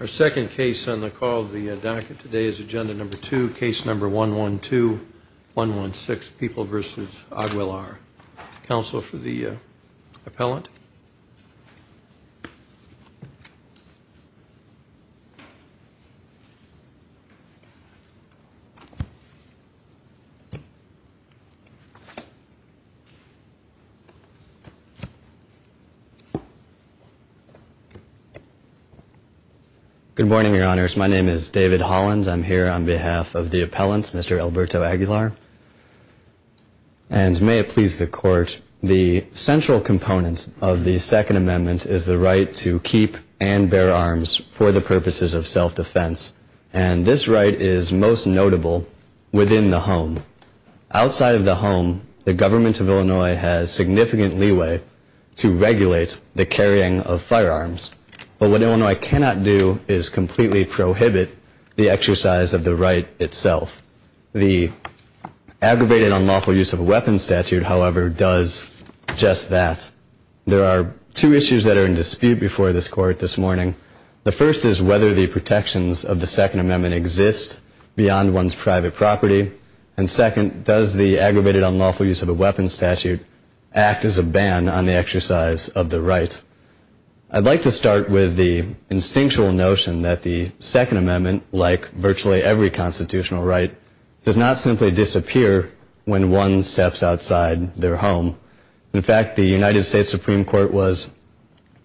Our second case on the call of the docket today is agenda number two, case number 112-116, People v. Aguilar. Counsel for the appellant. Good morning, your honors. My name is David Hollins. I'm here on behalf of the appellant, Mr. Alberto Aguilar. And may it please the court, the central component of the Second Amendment is the right to keep and bear arms for the purposes of self-defense. And this right is most notable within the home. Outside of the home, the government of Illinois has significant leeway to regulate the carrying of firearms. But what Illinois cannot do is completely prohibit the exercise of the right itself. The aggravated unlawful use of a weapons statute, however, does just that. There are two issues that are in dispute before this court this morning. The first is whether the protections of the Second Amendment exist beyond one's private property. And second, does the aggravated unlawful use of a weapons statute act as a ban on the exercise of the right? I'd like to start with the instinctual notion that the Second Amendment, like virtually every constitutional right, does not simply disappear when one steps outside their home. In fact, the United States Supreme Court was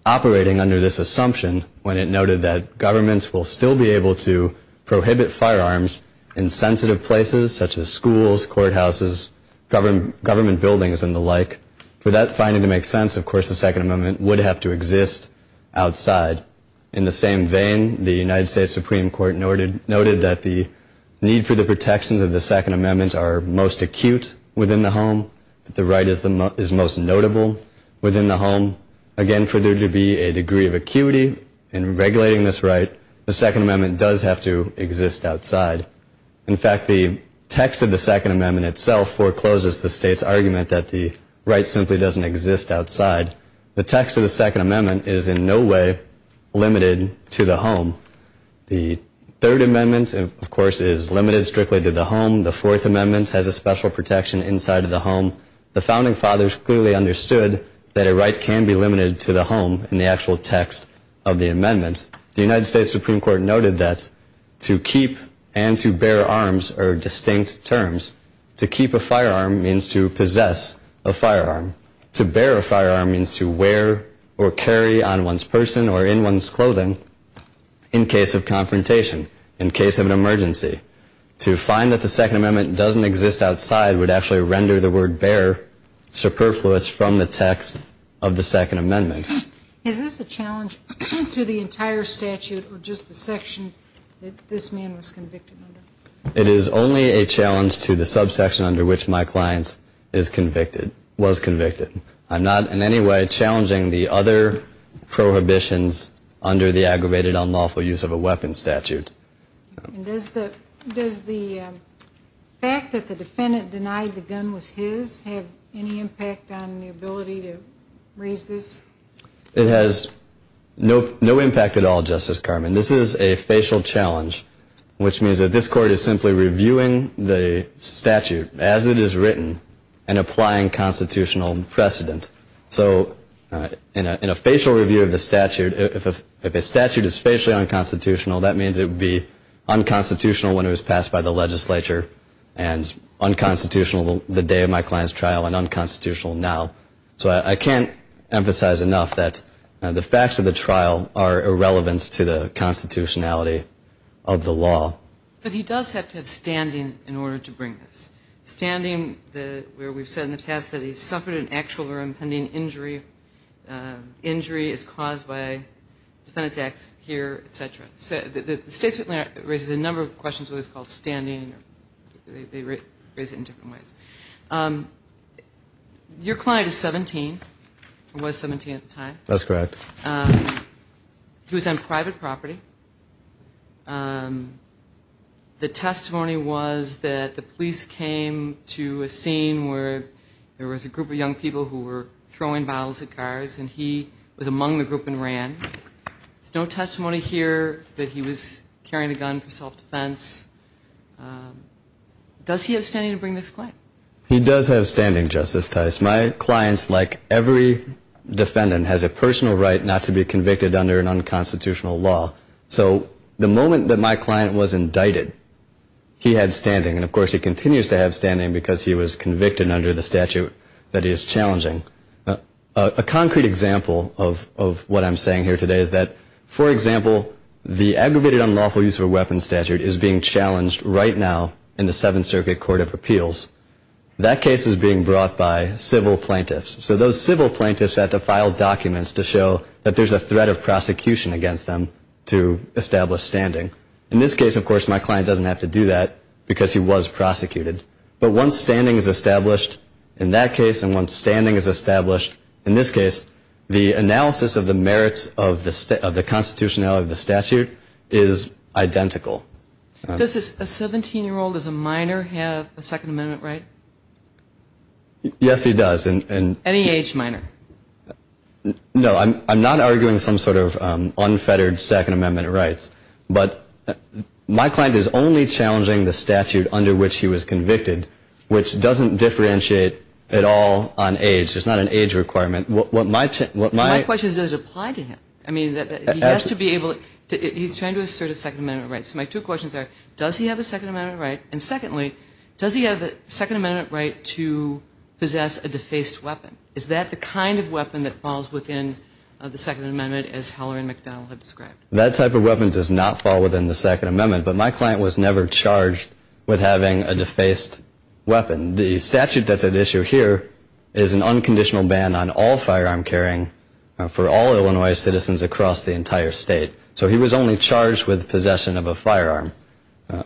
operating under this assumption when it noted that governments will still be able to prohibit firearms in sensitive places, such as schools, courthouses, government buildings, and the like. For that finding to make sense, of course, the Second Amendment would have to exist outside. In the same vein, the United States Supreme Court noted that the need for the protections of the Second Amendment are most acute within the home, that the right is most notable within the home. Again, for there to be a degree of acuity in regulating this right, the Second Amendment does have to exist outside. In fact, the text of the Second Amendment itself forecloses the state's argument that the right simply doesn't exist outside. The text of the Second Amendment is in no way limited to the home. The Third Amendment, of course, is limited strictly to the home. The Fourth Amendment has a special protection inside of the home. The Founding Fathers clearly understood that a right can be limited to the home in the actual text of the amendment. The United States Supreme Court noted that to keep and to bear arms are distinct terms. To keep a firearm means to possess a firearm. To bear a firearm means to wear or carry on one's person or in one's clothing in case of confrontation, in case of an emergency. To find that the Second Amendment doesn't exist outside would actually render the word bear superfluous from the text of the Second Amendment. Is this a challenge to the entire statute or just the section that this man was convicted under? It is only a challenge to the subsection under which my client is convicted, was convicted. I'm not in any way challenging the other prohibitions under the aggravated unlawful use of a weapon statute. Does the fact that the defendant denied the gun was his have any impact on the ability to raise this? It has no impact at all, Justice Carman. This is a facial challenge, which means that this Court is simply reviewing the statute as it is written and applying constitutional precedent. So in a facial review of the statute, if a statute is facially unconstitutional, that means it would be unconstitutional when it was passed by the legislature and unconstitutional the day of my client's trial and unconstitutional now. So I can't emphasize enough that the facts of the trial are irrelevant to the constitutionality of the law. But he does have to have standing in order to bring this. Standing where we've said in the past that he suffered an actual or impending injury. Injury is caused by a defendant's acts here, et cetera. The state certainly raises a number of questions about what is called standing. They raise it in different ways. Your client is 17 or was 17 at the time. That's correct. He was on private property. The testimony was that the police came to a scene where there was a group of young people who were throwing bottles at cars and he was among the group and ran. There's no testimony here that he was carrying a gun for self-defense. Does he have standing to bring this claim? He does have standing, Justice Tice. My client, like every defendant, has a personal right not to be convicted under an unconstitutional law. So the moment that my client was indicted, he had standing. And, of course, he continues to have standing because he was convicted under the statute that he is challenging. A concrete example of what I'm saying here today is that, for example, the Aggravated Unlawful Use of a Weapon statute is being challenged right now in the Seventh Circuit Court of Appeals. That case is being brought by civil plaintiffs. So those civil plaintiffs have to file documents to show that there's a threat of prosecution against them to establish standing. In this case, of course, my client doesn't have to do that because he was prosecuted. But once standing is established in that case and once standing is established in this case, the analysis of the merits of the constitutionality of the statute is identical. Does a 17-year-old as a minor have a Second Amendment right? Yes, he does. Any age minor? No. I'm not arguing some sort of unfettered Second Amendment rights. But my client is only challenging the statute under which he was convicted, which doesn't differentiate at all on age. There's not an age requirement. My question is, does it apply to him? I mean, he has to be able to – he's trying to assert a Second Amendment right. So my two questions are, does he have a Second Amendment right? And secondly, does he have a Second Amendment right to possess a defaced weapon? Is that the kind of weapon that falls within the Second Amendment as Heller and McDowell have described? That type of weapon does not fall within the Second Amendment. But my client was never charged with having a defaced weapon. The statute that's at issue here is an unconditional ban on all firearm carrying for all Illinois citizens across the entire state. So he was only charged with possession of a firearm.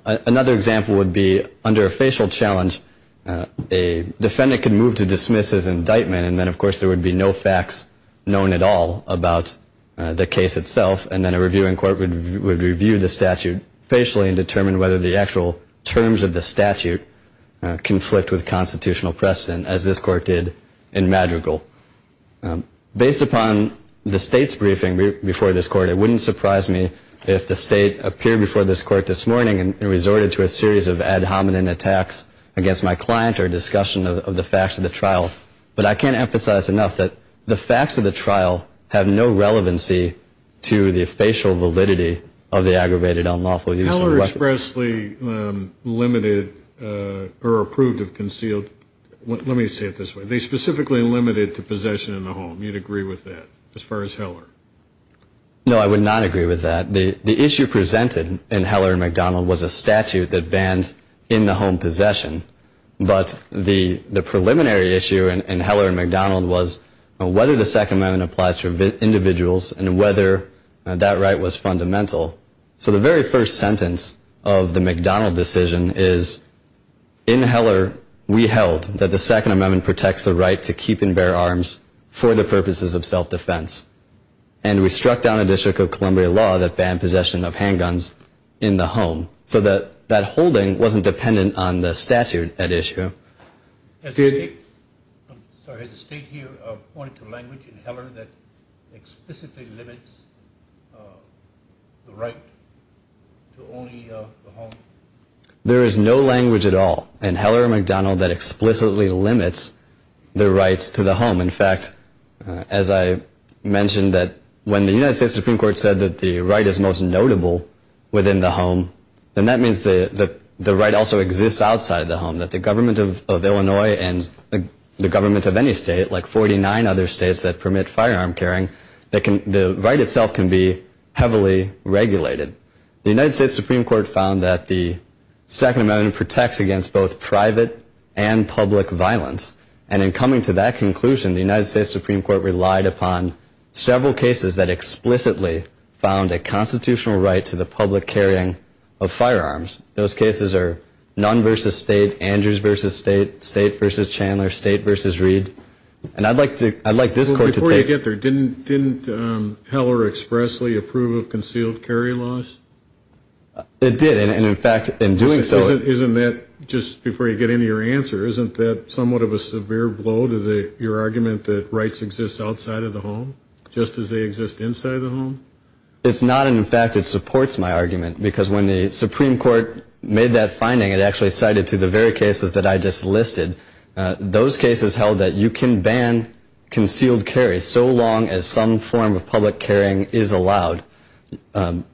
Another example would be under a facial challenge, a defendant could move to dismiss his indictment, and then, of course, there would be no facts known at all about the case itself. And then a reviewing court would review the statute facially and determine whether the actual terms of the statute conflict with constitutional precedent, as this court did in Madrigal. Based upon the state's briefing before this court, it wouldn't surprise me if the state appeared before this court this morning and resorted to a series of ad hominem attacks against my client or discussion of the facts of the trial. But I can't emphasize enough that the facts of the trial have no relevancy to the facial validity of the aggravated unlawful use of a weapon. Heller expressly limited or approved of concealed, let me say it this way, they specifically limited to possession in the home. No, I would not agree with that. The issue presented in Heller and McDonald was a statute that bans in the home possession. But the preliminary issue in Heller and McDonald was whether the Second Amendment applies to individuals and whether that right was fundamental. So the very first sentence of the McDonald decision is, in Heller, we held that the Second Amendment protects the right to keep and bear arms for the purposes of self-defense. And we struck down a District of Columbia law that banned possession of handguns in the home so that that holding wasn't dependent on the statute at issue. Has the state here pointed to language in Heller that explicitly limits the right to only the home? There is no language at all in Heller and McDonald that explicitly limits the rights to the home. In fact, as I mentioned, that when the United States Supreme Court said that the right is most notable within the home, then that means that the right also exists outside of the home, that the government of Illinois and the government of any state, like 49 other states that permit firearm carrying, the right itself can be heavily regulated. The United States Supreme Court found that the Second Amendment protects against both private and public violence. And in coming to that conclusion, the United States Supreme Court relied upon several cases that explicitly found a constitutional right to the public carrying of firearms. Those cases are Nunn v. State, Andrews v. State, State v. Chandler, State v. Reed. Before you get there, didn't Heller expressly approve of concealed carry laws? It did, and in fact, in doing so. Isn't that, just before you get into your answer, isn't that somewhat of a severe blow to your argument that rights exist outside of the home, just as they exist inside the home? It's not, and in fact, it supports my argument, because when the Supreme Court made that finding, it actually cited to the very cases that I just listed. Those cases held that you can ban concealed carry so long as some form of public carrying is allowed. The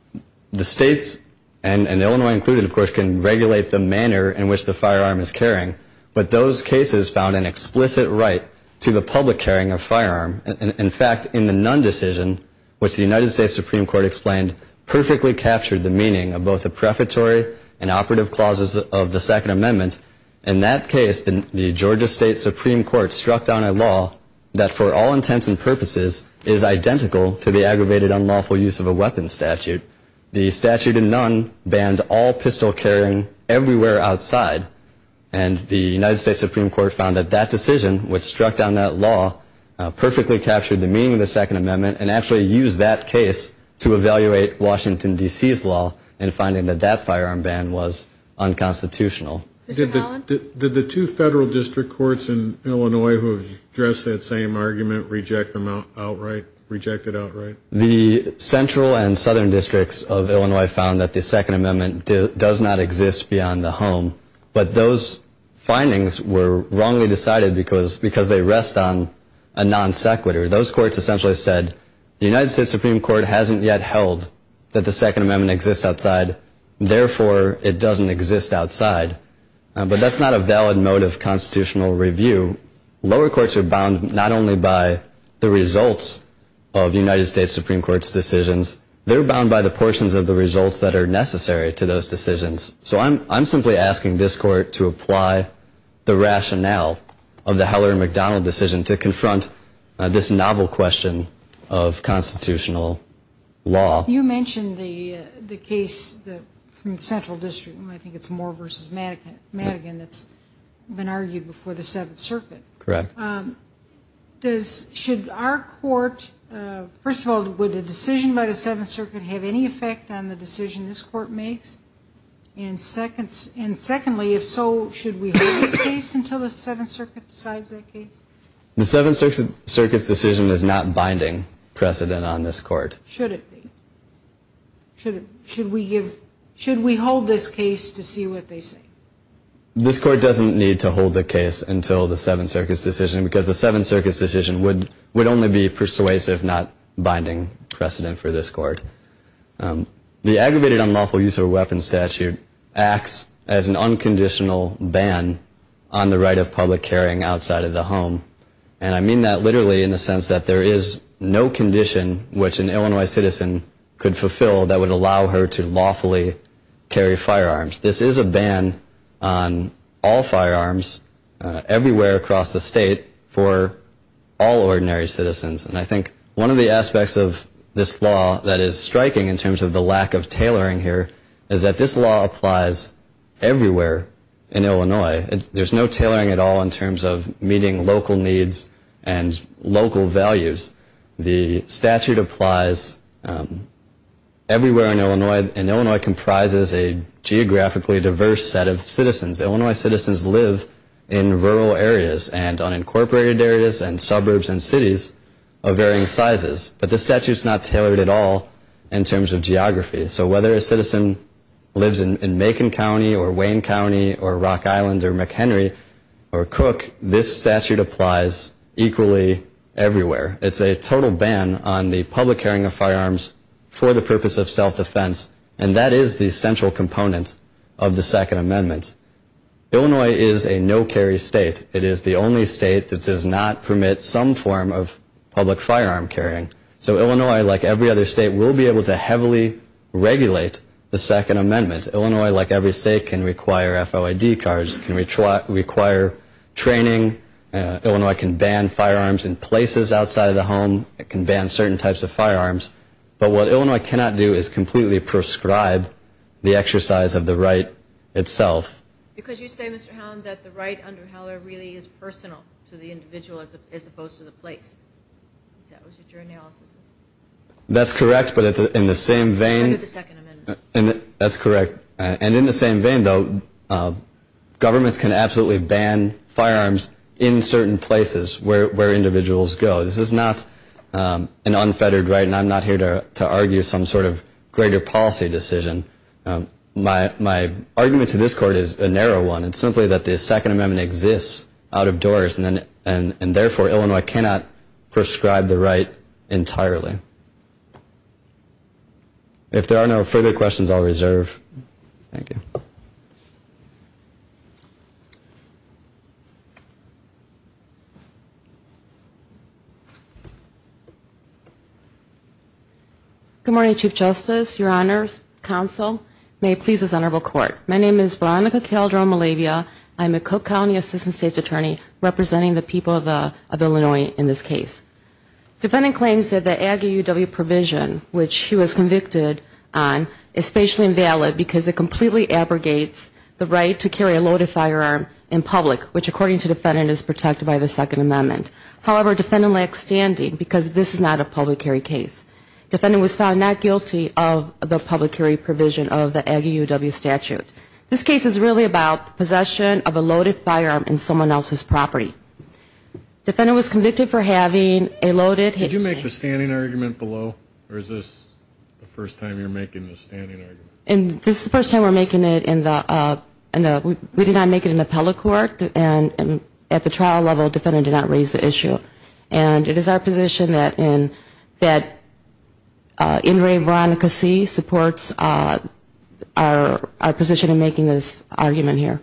states, and Illinois included, of course, can regulate the manner in which the firearm is carrying, but those cases found an explicit right to the public carrying of firearms. In fact, in the Nunn decision, which the United States Supreme Court explained, perfectly captured the meaning of both the prefatory and operative clauses of the Second Amendment. In that case, the Georgia State Supreme Court struck down a law that, for all intents and purposes, is identical to the aggravated unlawful use of a weapons statute. The statute in Nunn banned all pistol carrying everywhere outside, and the United States Supreme Court found that that decision, which struck down that law, perfectly captured the meaning of the Second Amendment, and actually used that case to evaluate Washington, D.C.'s law in finding that that firearm ban was unconstitutional. Did the two federal district courts in Illinois who addressed that same argument reject it outright? The central and southern districts of Illinois found that the Second Amendment does not exist beyond the home, but those findings were wrongly decided because they rest on a non sequitur. Those courts essentially said the United States Supreme Court hasn't yet held that the Second Amendment exists outside, therefore it doesn't exist outside. But that's not a valid mode of constitutional review. Lower courts are bound not only by the results of United States Supreme Court's decisions, they're bound by the portions of the results that are necessary to those decisions. So I'm simply asking this court to apply the rationale of the Heller-McDonnell decision to confront this novel question of constitutional law. You mentioned the case from the central district. I think it's Moore v. Madigan that's been argued before the Seventh Circuit. Correct. Should our court, first of all, would a decision by the Seventh Circuit have any effect on the decision this court makes? And secondly, if so, should we hold this case until the Seventh Circuit decides that case? The Seventh Circuit's decision is not binding precedent on this court. Should it be? Should we hold this case to see what they say? This court doesn't need to hold the case until the Seventh Circuit's decision because the Seventh Circuit's decision would only be persuasive, not binding precedent for this court. The aggravated unlawful use of a weapon statute acts as an unconditional ban on the right of public carrying outside of the home. And I mean that literally in the sense that there is no condition which an Illinois citizen could fulfill that would allow her to lawfully carry firearms. This is a ban on all firearms everywhere across the state for all ordinary citizens. And I think one of the aspects of this law that is striking in terms of the lack of tailoring here is that this law applies everywhere in Illinois. There's no tailoring at all in terms of meeting local needs and local values. The statute applies everywhere in Illinois, and Illinois comprises a geographically diverse set of citizens. Illinois citizens live in rural areas and unincorporated areas and suburbs and cities of varying sizes. But the statute's not tailored at all in terms of geography. So whether a citizen lives in Macon County or Wayne County or Rock Island or McHenry or Cook, this statute applies equally everywhere. It's a total ban on the public carrying of firearms for the purpose of self-defense, and that is the central component of the Second Amendment. Illinois is a no-carry state. It is the only state that does not permit some form of public firearm carrying. So Illinois, like every other state, will be able to heavily regulate the Second Amendment. Illinois, like every state, can require FOID cards. It can require training. Illinois can ban firearms in places outside of the home. It can ban certain types of firearms. But what Illinois cannot do is completely prescribe the exercise of the right itself. Because you say, Mr. Howland, that the right under Heller really is personal to the individual as opposed to the place. Is that what your analysis is? That's correct, but in the same vein. Under the Second Amendment. That's correct. And in the same vein, though, governments can absolutely ban firearms in certain places where individuals go. This is not an unfettered right, and I'm not here to argue some sort of greater policy decision. My argument to this court is a narrow one. It's simply that the Second Amendment exists out of doors, and therefore, Illinois cannot prescribe the right entirely. If there are no further questions, I'll reserve. Thank you. Good morning, Chief Justice, Your Honors, Counsel, may it please this honorable court. My name is Veronica Calderon-Malavia. I'm a Cook County Assistant State's Attorney representing the people of Illinois in this case. Defending claims that the Aggie UW provision, which he was convicted on, is spatially invalid because it completely abrogates the law. The right to carry a loaded firearm in public, which according to the defendant is protected by the Second Amendment. However, defendant lacks standing because this is not a public carry case. Defendant was found not guilty of the public carry provision of the Aggie UW statute. This case is really about possession of a loaded firearm in someone else's property. Defendant was convicted for having a loaded. Did you make the standing argument below, or is this the first time you're making the standing argument? This is the first time we're making it in the, we did not make it in the appellate court. And at the trial level, defendant did not raise the issue. And it is our position that in re Veronica C. supports our position in making this argument here.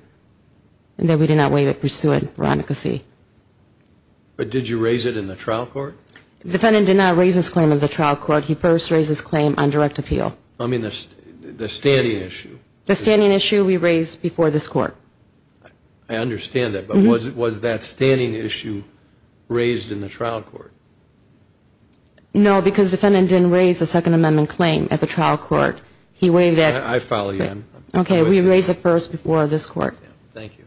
And that we did not waive it pursuant Veronica C. But did you raise it in the trial court? Defendant did not raise this claim in the trial court. He first raised this claim on direct appeal. I mean the standing issue. The standing issue we raised before this court. I understand that. But was that standing issue raised in the trial court? No, because defendant didn't raise the Second Amendment claim at the trial court. He waived that. I follow you. Okay, we raised it first before this court. Thank you.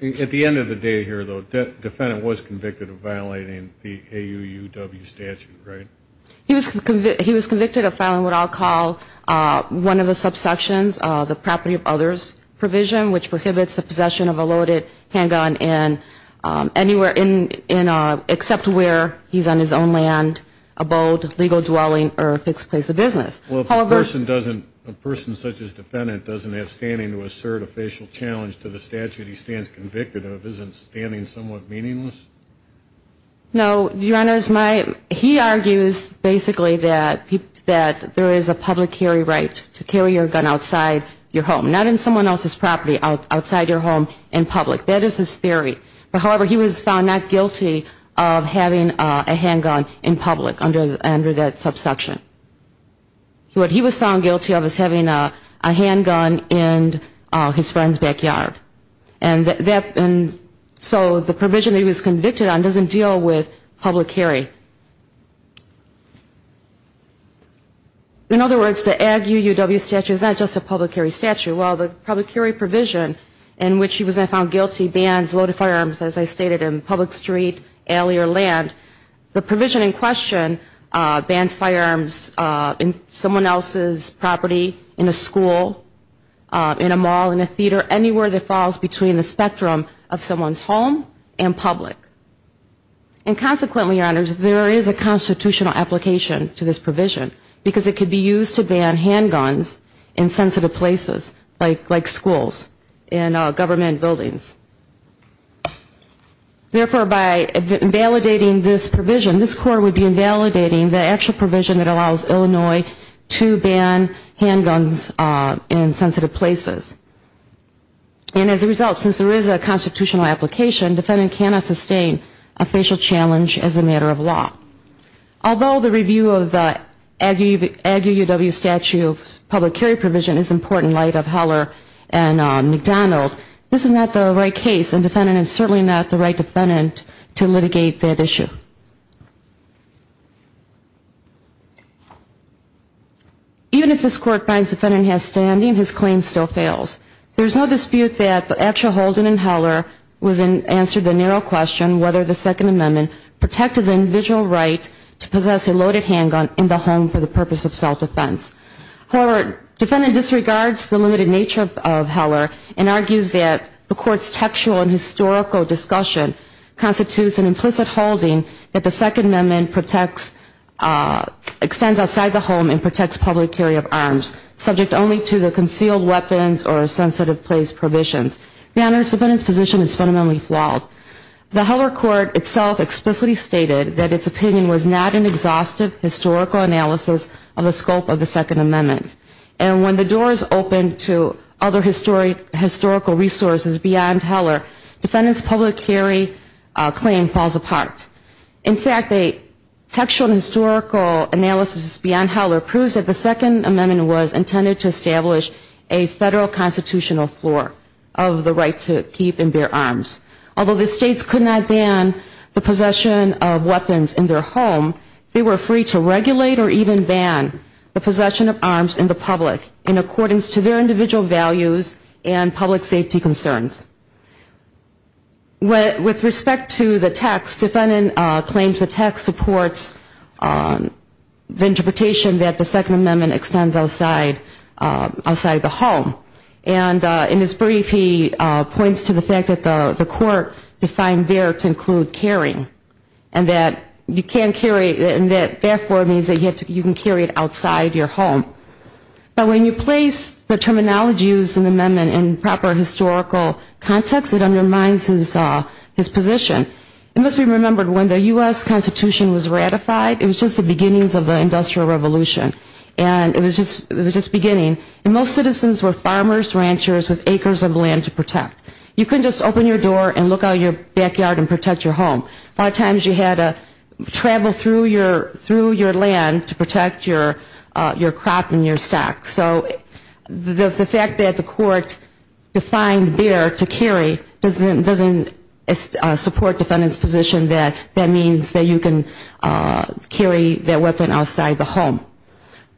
At the end of the day here, though, defendant was convicted of violating the AUUW statute, right? He was convicted of filing what I'll call one of the subsections, the property of others provision, which prohibits the possession of a loaded handgun anywhere except where he's on his own land, abode, legal dwelling, or a fixed place of business. Well, if a person such as defendant doesn't have standing to assert a facial challenge to the statute he stands convicted of, isn't standing somewhat meaningless? No, Your Honors. He argues basically that there is a public carry right to carry your gun outside your home, not in someone else's property, outside your home in public. That is his theory. However, he was found not guilty of having a handgun in public under that subsection. What he was found guilty of was having a handgun in his friend's backyard. And so the provision that he was convicted on doesn't deal with public carry. In other words, the AUUW statute is not just a public carry statute. Well, the public carry provision in which he was then found guilty bans loaded firearms, as I stated, in public street, alley, or land. The provision in question bans firearms in someone else's property, in a school, in a mall, in a theater, anywhere that falls between the spectrum of someone's home and public. And consequently, Your Honors, there is a constitutional application to this provision because it could be used to ban handguns in sensitive places like schools and government buildings. Therefore, by invalidating this provision, this Court would be invalidating the actual provision that allows Illinois to ban handguns in sensitive places. And as a result, since there is a constitutional application, defendant cannot sustain a facial challenge as a matter of law. Although the review of the AUUW statute public carry provision is important in light of Howler and McDonald, this is not the right case, and the defendant is certainly not the right defendant to litigate that issue. Even if this Court finds the defendant has standing, his claim still fails. There is no dispute that the actual holding in Howler answered the narrow question whether the Second Amendment protected the individual right to possess a loaded handgun in the home for the purpose of self-defense. However, defendant disregards the limited nature of Howler and argues that the Court's textual and historical discussion constitutes an implicit holding that the Second Amendment extends outside the home and protects public carry of arms, subject only to the concealed weapons or sensitive place provisions. Your Honors, defendant's position is fundamentally flawed. The Howler Court itself explicitly stated that its opinion was not an exhaustive historical analysis of the scope of the Second Amendment. And when the doors open to other historical resources beyond Howler, defendant's public carry claim falls apart. In fact, the textual and historical analysis beyond Howler proves that the Second Amendment was intended to establish a federal constitutional floor of the right to keep and bear arms. Although the states could not ban the possession of weapons in their home, they were free to regulate or even ban the possession of arms in the public in accordance to their individual values and public safety concerns. With respect to the text, defendant claims the text supports the interpretation that the Second Amendment extends outside the home. And in his brief, he points to the fact that the Court defined there to include carrying, and that you can't carry, and that therefore means that you can carry it outside your home. But when you place the terminology used in the amendment in proper historical context, it undermines his position. It must be remembered when the U.S. Constitution was ratified, it was just the beginnings of the Industrial Revolution. And it was just beginning. And most citizens were farmers, ranchers with acres of land to protect. You couldn't just open your door and look out your backyard and protect your home. A lot of times you had to travel through your land to protect your crop and your stock. So the fact that the Court defined there to carry doesn't support defendant's position that that means that you can carry that weapon outside the home.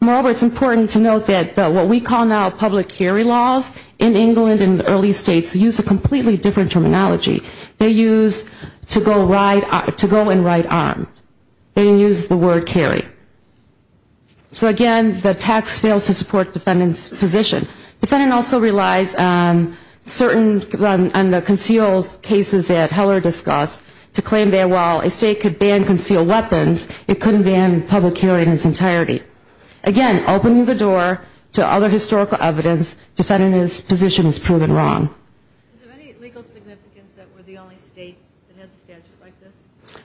Moreover, it's important to note that what we call now public carry laws in England and early states use a completely different terminology. They use to go and ride armed. They use the word carry. So again, the text fails to support defendant's position. Defendant also relies on certain concealed cases that Heller discussed to claim that while a state could ban concealed weapons, it couldn't ban public carry in its entirety. Again, opening the door to other historical evidence, defendant's position is proven wrong. Is there any legal significance that we're the only state that has a statute like this?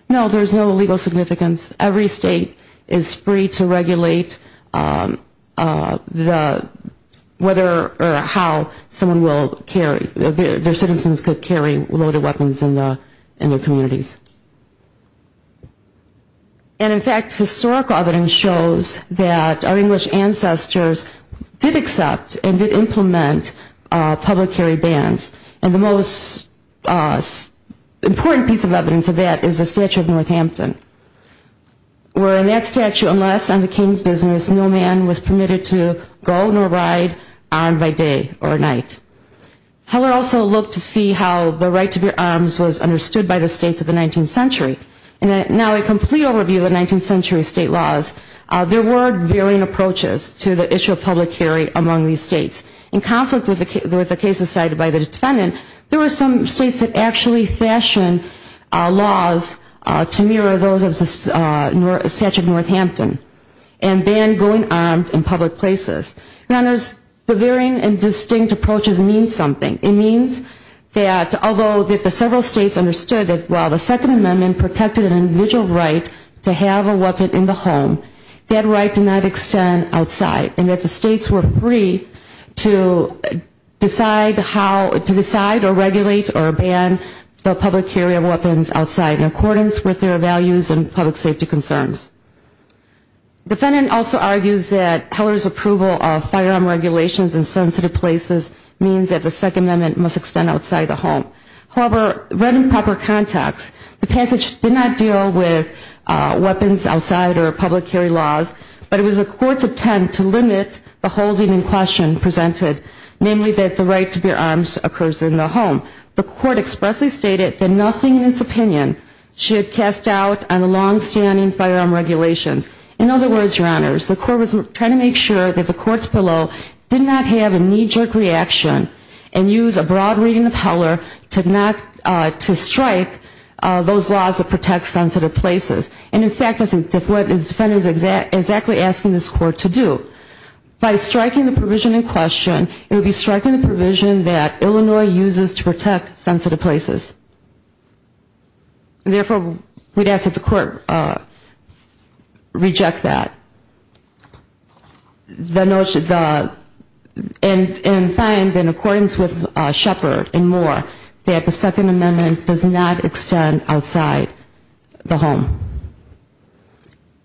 No, there's no legal significance. Every state is free to regulate whether or how their citizens could carry loaded weapons in their communities. And in fact, historical evidence shows that our English ancestors did accept and did implement public carry bans. And the most important piece of evidence of that is the Statute of Northampton, where in that statute, unless under King's business, no man was permitted to go nor ride armed by day or night. Heller also looked to see how the right to bear arms was understood by the states of the 19th century. And now a complete overview of the 19th century state laws, there were varying approaches to the issue of public carry among these states. In conflict with the cases cited by the defendant, there were some states that actually fashioned laws to mirror those of the Statute of Northampton and banned going armed in public places. Now, the varying and distinct approaches mean something. It means that although the several states understood that while the Second Amendment protected an individual right to have a weapon in the home, that right did not extend outside and that the states were free to decide or regulate or ban the public carry of weapons outside in accordance with their values and public safety concerns. The defendant also argues that Heller's approval of firearm regulations in sensitive places means that the Second Amendment must extend outside the home. However, read in proper context, the passage did not deal with weapons outside or public carry laws, but it was the court's attempt to limit the holding in question presented, namely that the right to bear arms occurs in the home. The court expressly stated that nothing in its opinion should cast doubt on the longstanding firearm regulations. In other words, Your Honors, the court was trying to make sure that the courts below did not have a knee-jerk reaction and use a broad reading of Heller to strike those laws that protect sensitive places. And, in fact, that's what the defendant is exactly asking this court to do. By striking the provision in question, it would be striking the provision that Illinois uses to protect sensitive places. Therefore, we'd ask that the court reject that. And find, in accordance with Shepard and more, that the Second Amendment does not extend outside the home.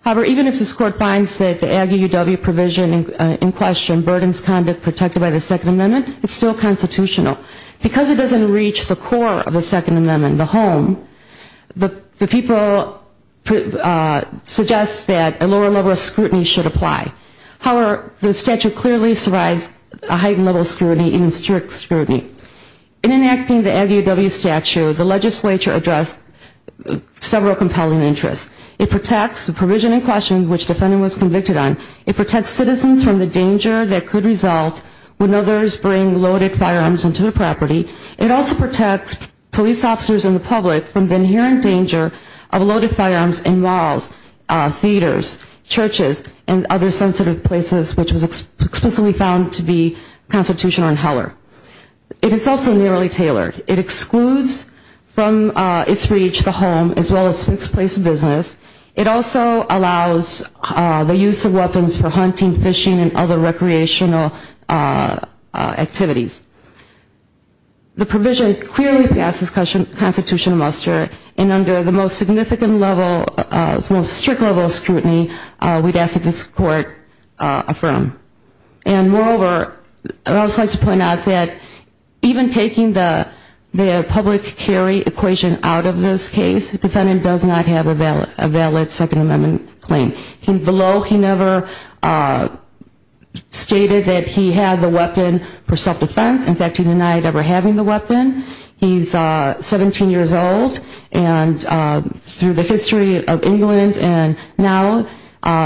However, even if this court finds that the Aggie UW provision in question burdens conduct protected by the Second Amendment, it's still constitutional. Because it doesn't reach the core of the Second Amendment, the home, the people suggest that a lower level of scrutiny should apply. However, the statute clearly provides a heightened level of scrutiny and strict scrutiny. In enacting the Aggie UW statute, the legislature addressed several compelling interests. It protects the provision in question which the defendant was convicted on. It protects citizens from the danger that could result when others bring loaded firearms into the property. It also protects police officers and the public from the inherent danger of loaded firearms in malls, theaters, churches, and other sensitive places, which was explicitly found to be constitutional in Heller. It is also nearly tailored. It excludes from its reach the home as well as fixed place business. It also allows the use of weapons for hunting, fishing, and other recreational activities. The provision clearly passes constitutional muster, and under the most significant level, most strict level of scrutiny, we'd ask that this court affirm. And moreover, I'd also like to point out that even taking the public carry equation out of this case, the defendant does not have a valid Second Amendment claim. Below, he never stated that he had the weapon for self-defense. In fact, he denied ever having the weapon. He's 17 years old, and through the history of England and now,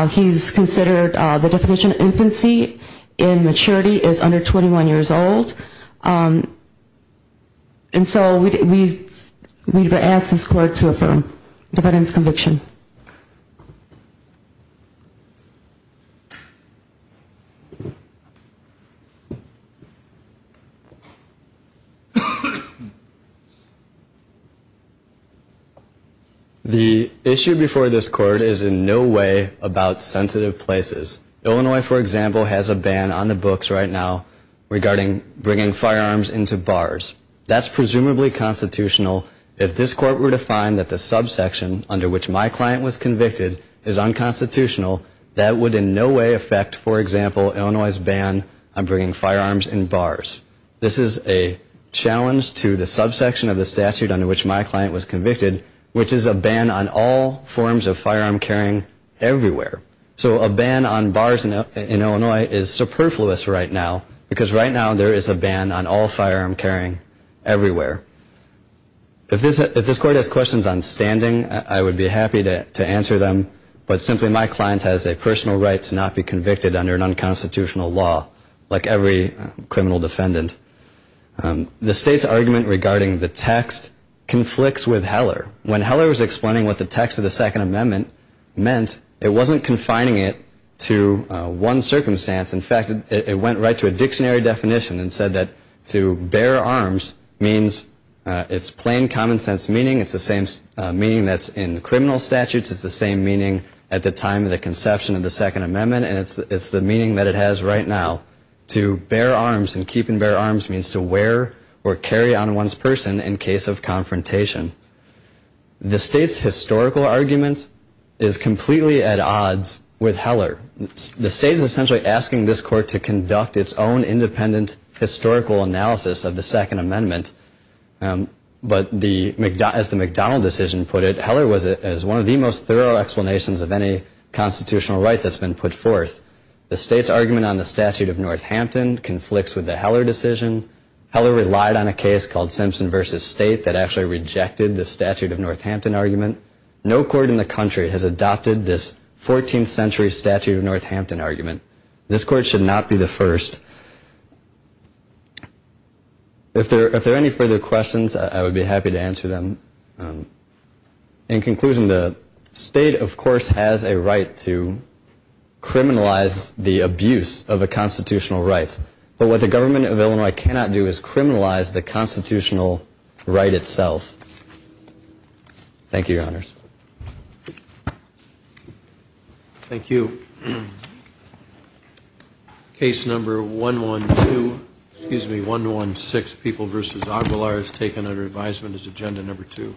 he's considered the definition of infancy in maturity as under 21 years old. And so we'd ask this court to affirm the defendant's conviction. The issue before this court is in no way about sensitive places. Illinois, for example, has a ban on the books right now regarding bringing firearms into bars. That's presumably constitutional. If this court were to find that the subsection under which my client was convicted is unconstitutional, that would in no way affect, for example, Illinois' ban on bringing firearms in bars. This is a challenge to the subsection of the statute under which my client was convicted, which is a ban on all forms of firearm carrying everywhere. So a ban on bars in Illinois is superfluous right now, because right now there is a ban on all firearm carrying everywhere. If this court has questions on standing, I would be happy to answer them. But simply, my client has a personal right to not be convicted under an unconstitutional law, like every criminal defendant. The state's argument regarding the text conflicts with Heller. When Heller was explaining what the text of the Second Amendment meant, it wasn't confining it to one circumstance. In fact, it went right to a dictionary definition and said that to bear arms means it's plain common sense meaning. It's the same meaning that's in criminal statutes. It's the same meaning at the time of the conception of the Second Amendment, and it's the meaning that it has right now. To bear arms and keep and bear arms means to wear or carry on one's person in case of confrontation. The state's historical argument is completely at odds with Heller. The state is essentially asking this court to conduct its own independent historical analysis of the Second Amendment. But as the McDonald decision put it, Heller was one of the most thorough explanations of any constitutional right that's been put forth. The state's argument on the Statute of Northampton conflicts with the Heller decision. Heller relied on a case called Simpson v. State that actually rejected the Statute of Northampton argument. No court in the country has adopted this 14th century Statute of Northampton argument. This court should not be the first. If there are any further questions, I would be happy to answer them. In conclusion, the state, of course, has a right to criminalize the abuse of a constitutional right. But what the government of Illinois cannot do is criminalize the constitutional right itself. Thank you, Your Honors. Thank you. Case number 116, People v. Aguilar, is taken under advisement as agenda number 2.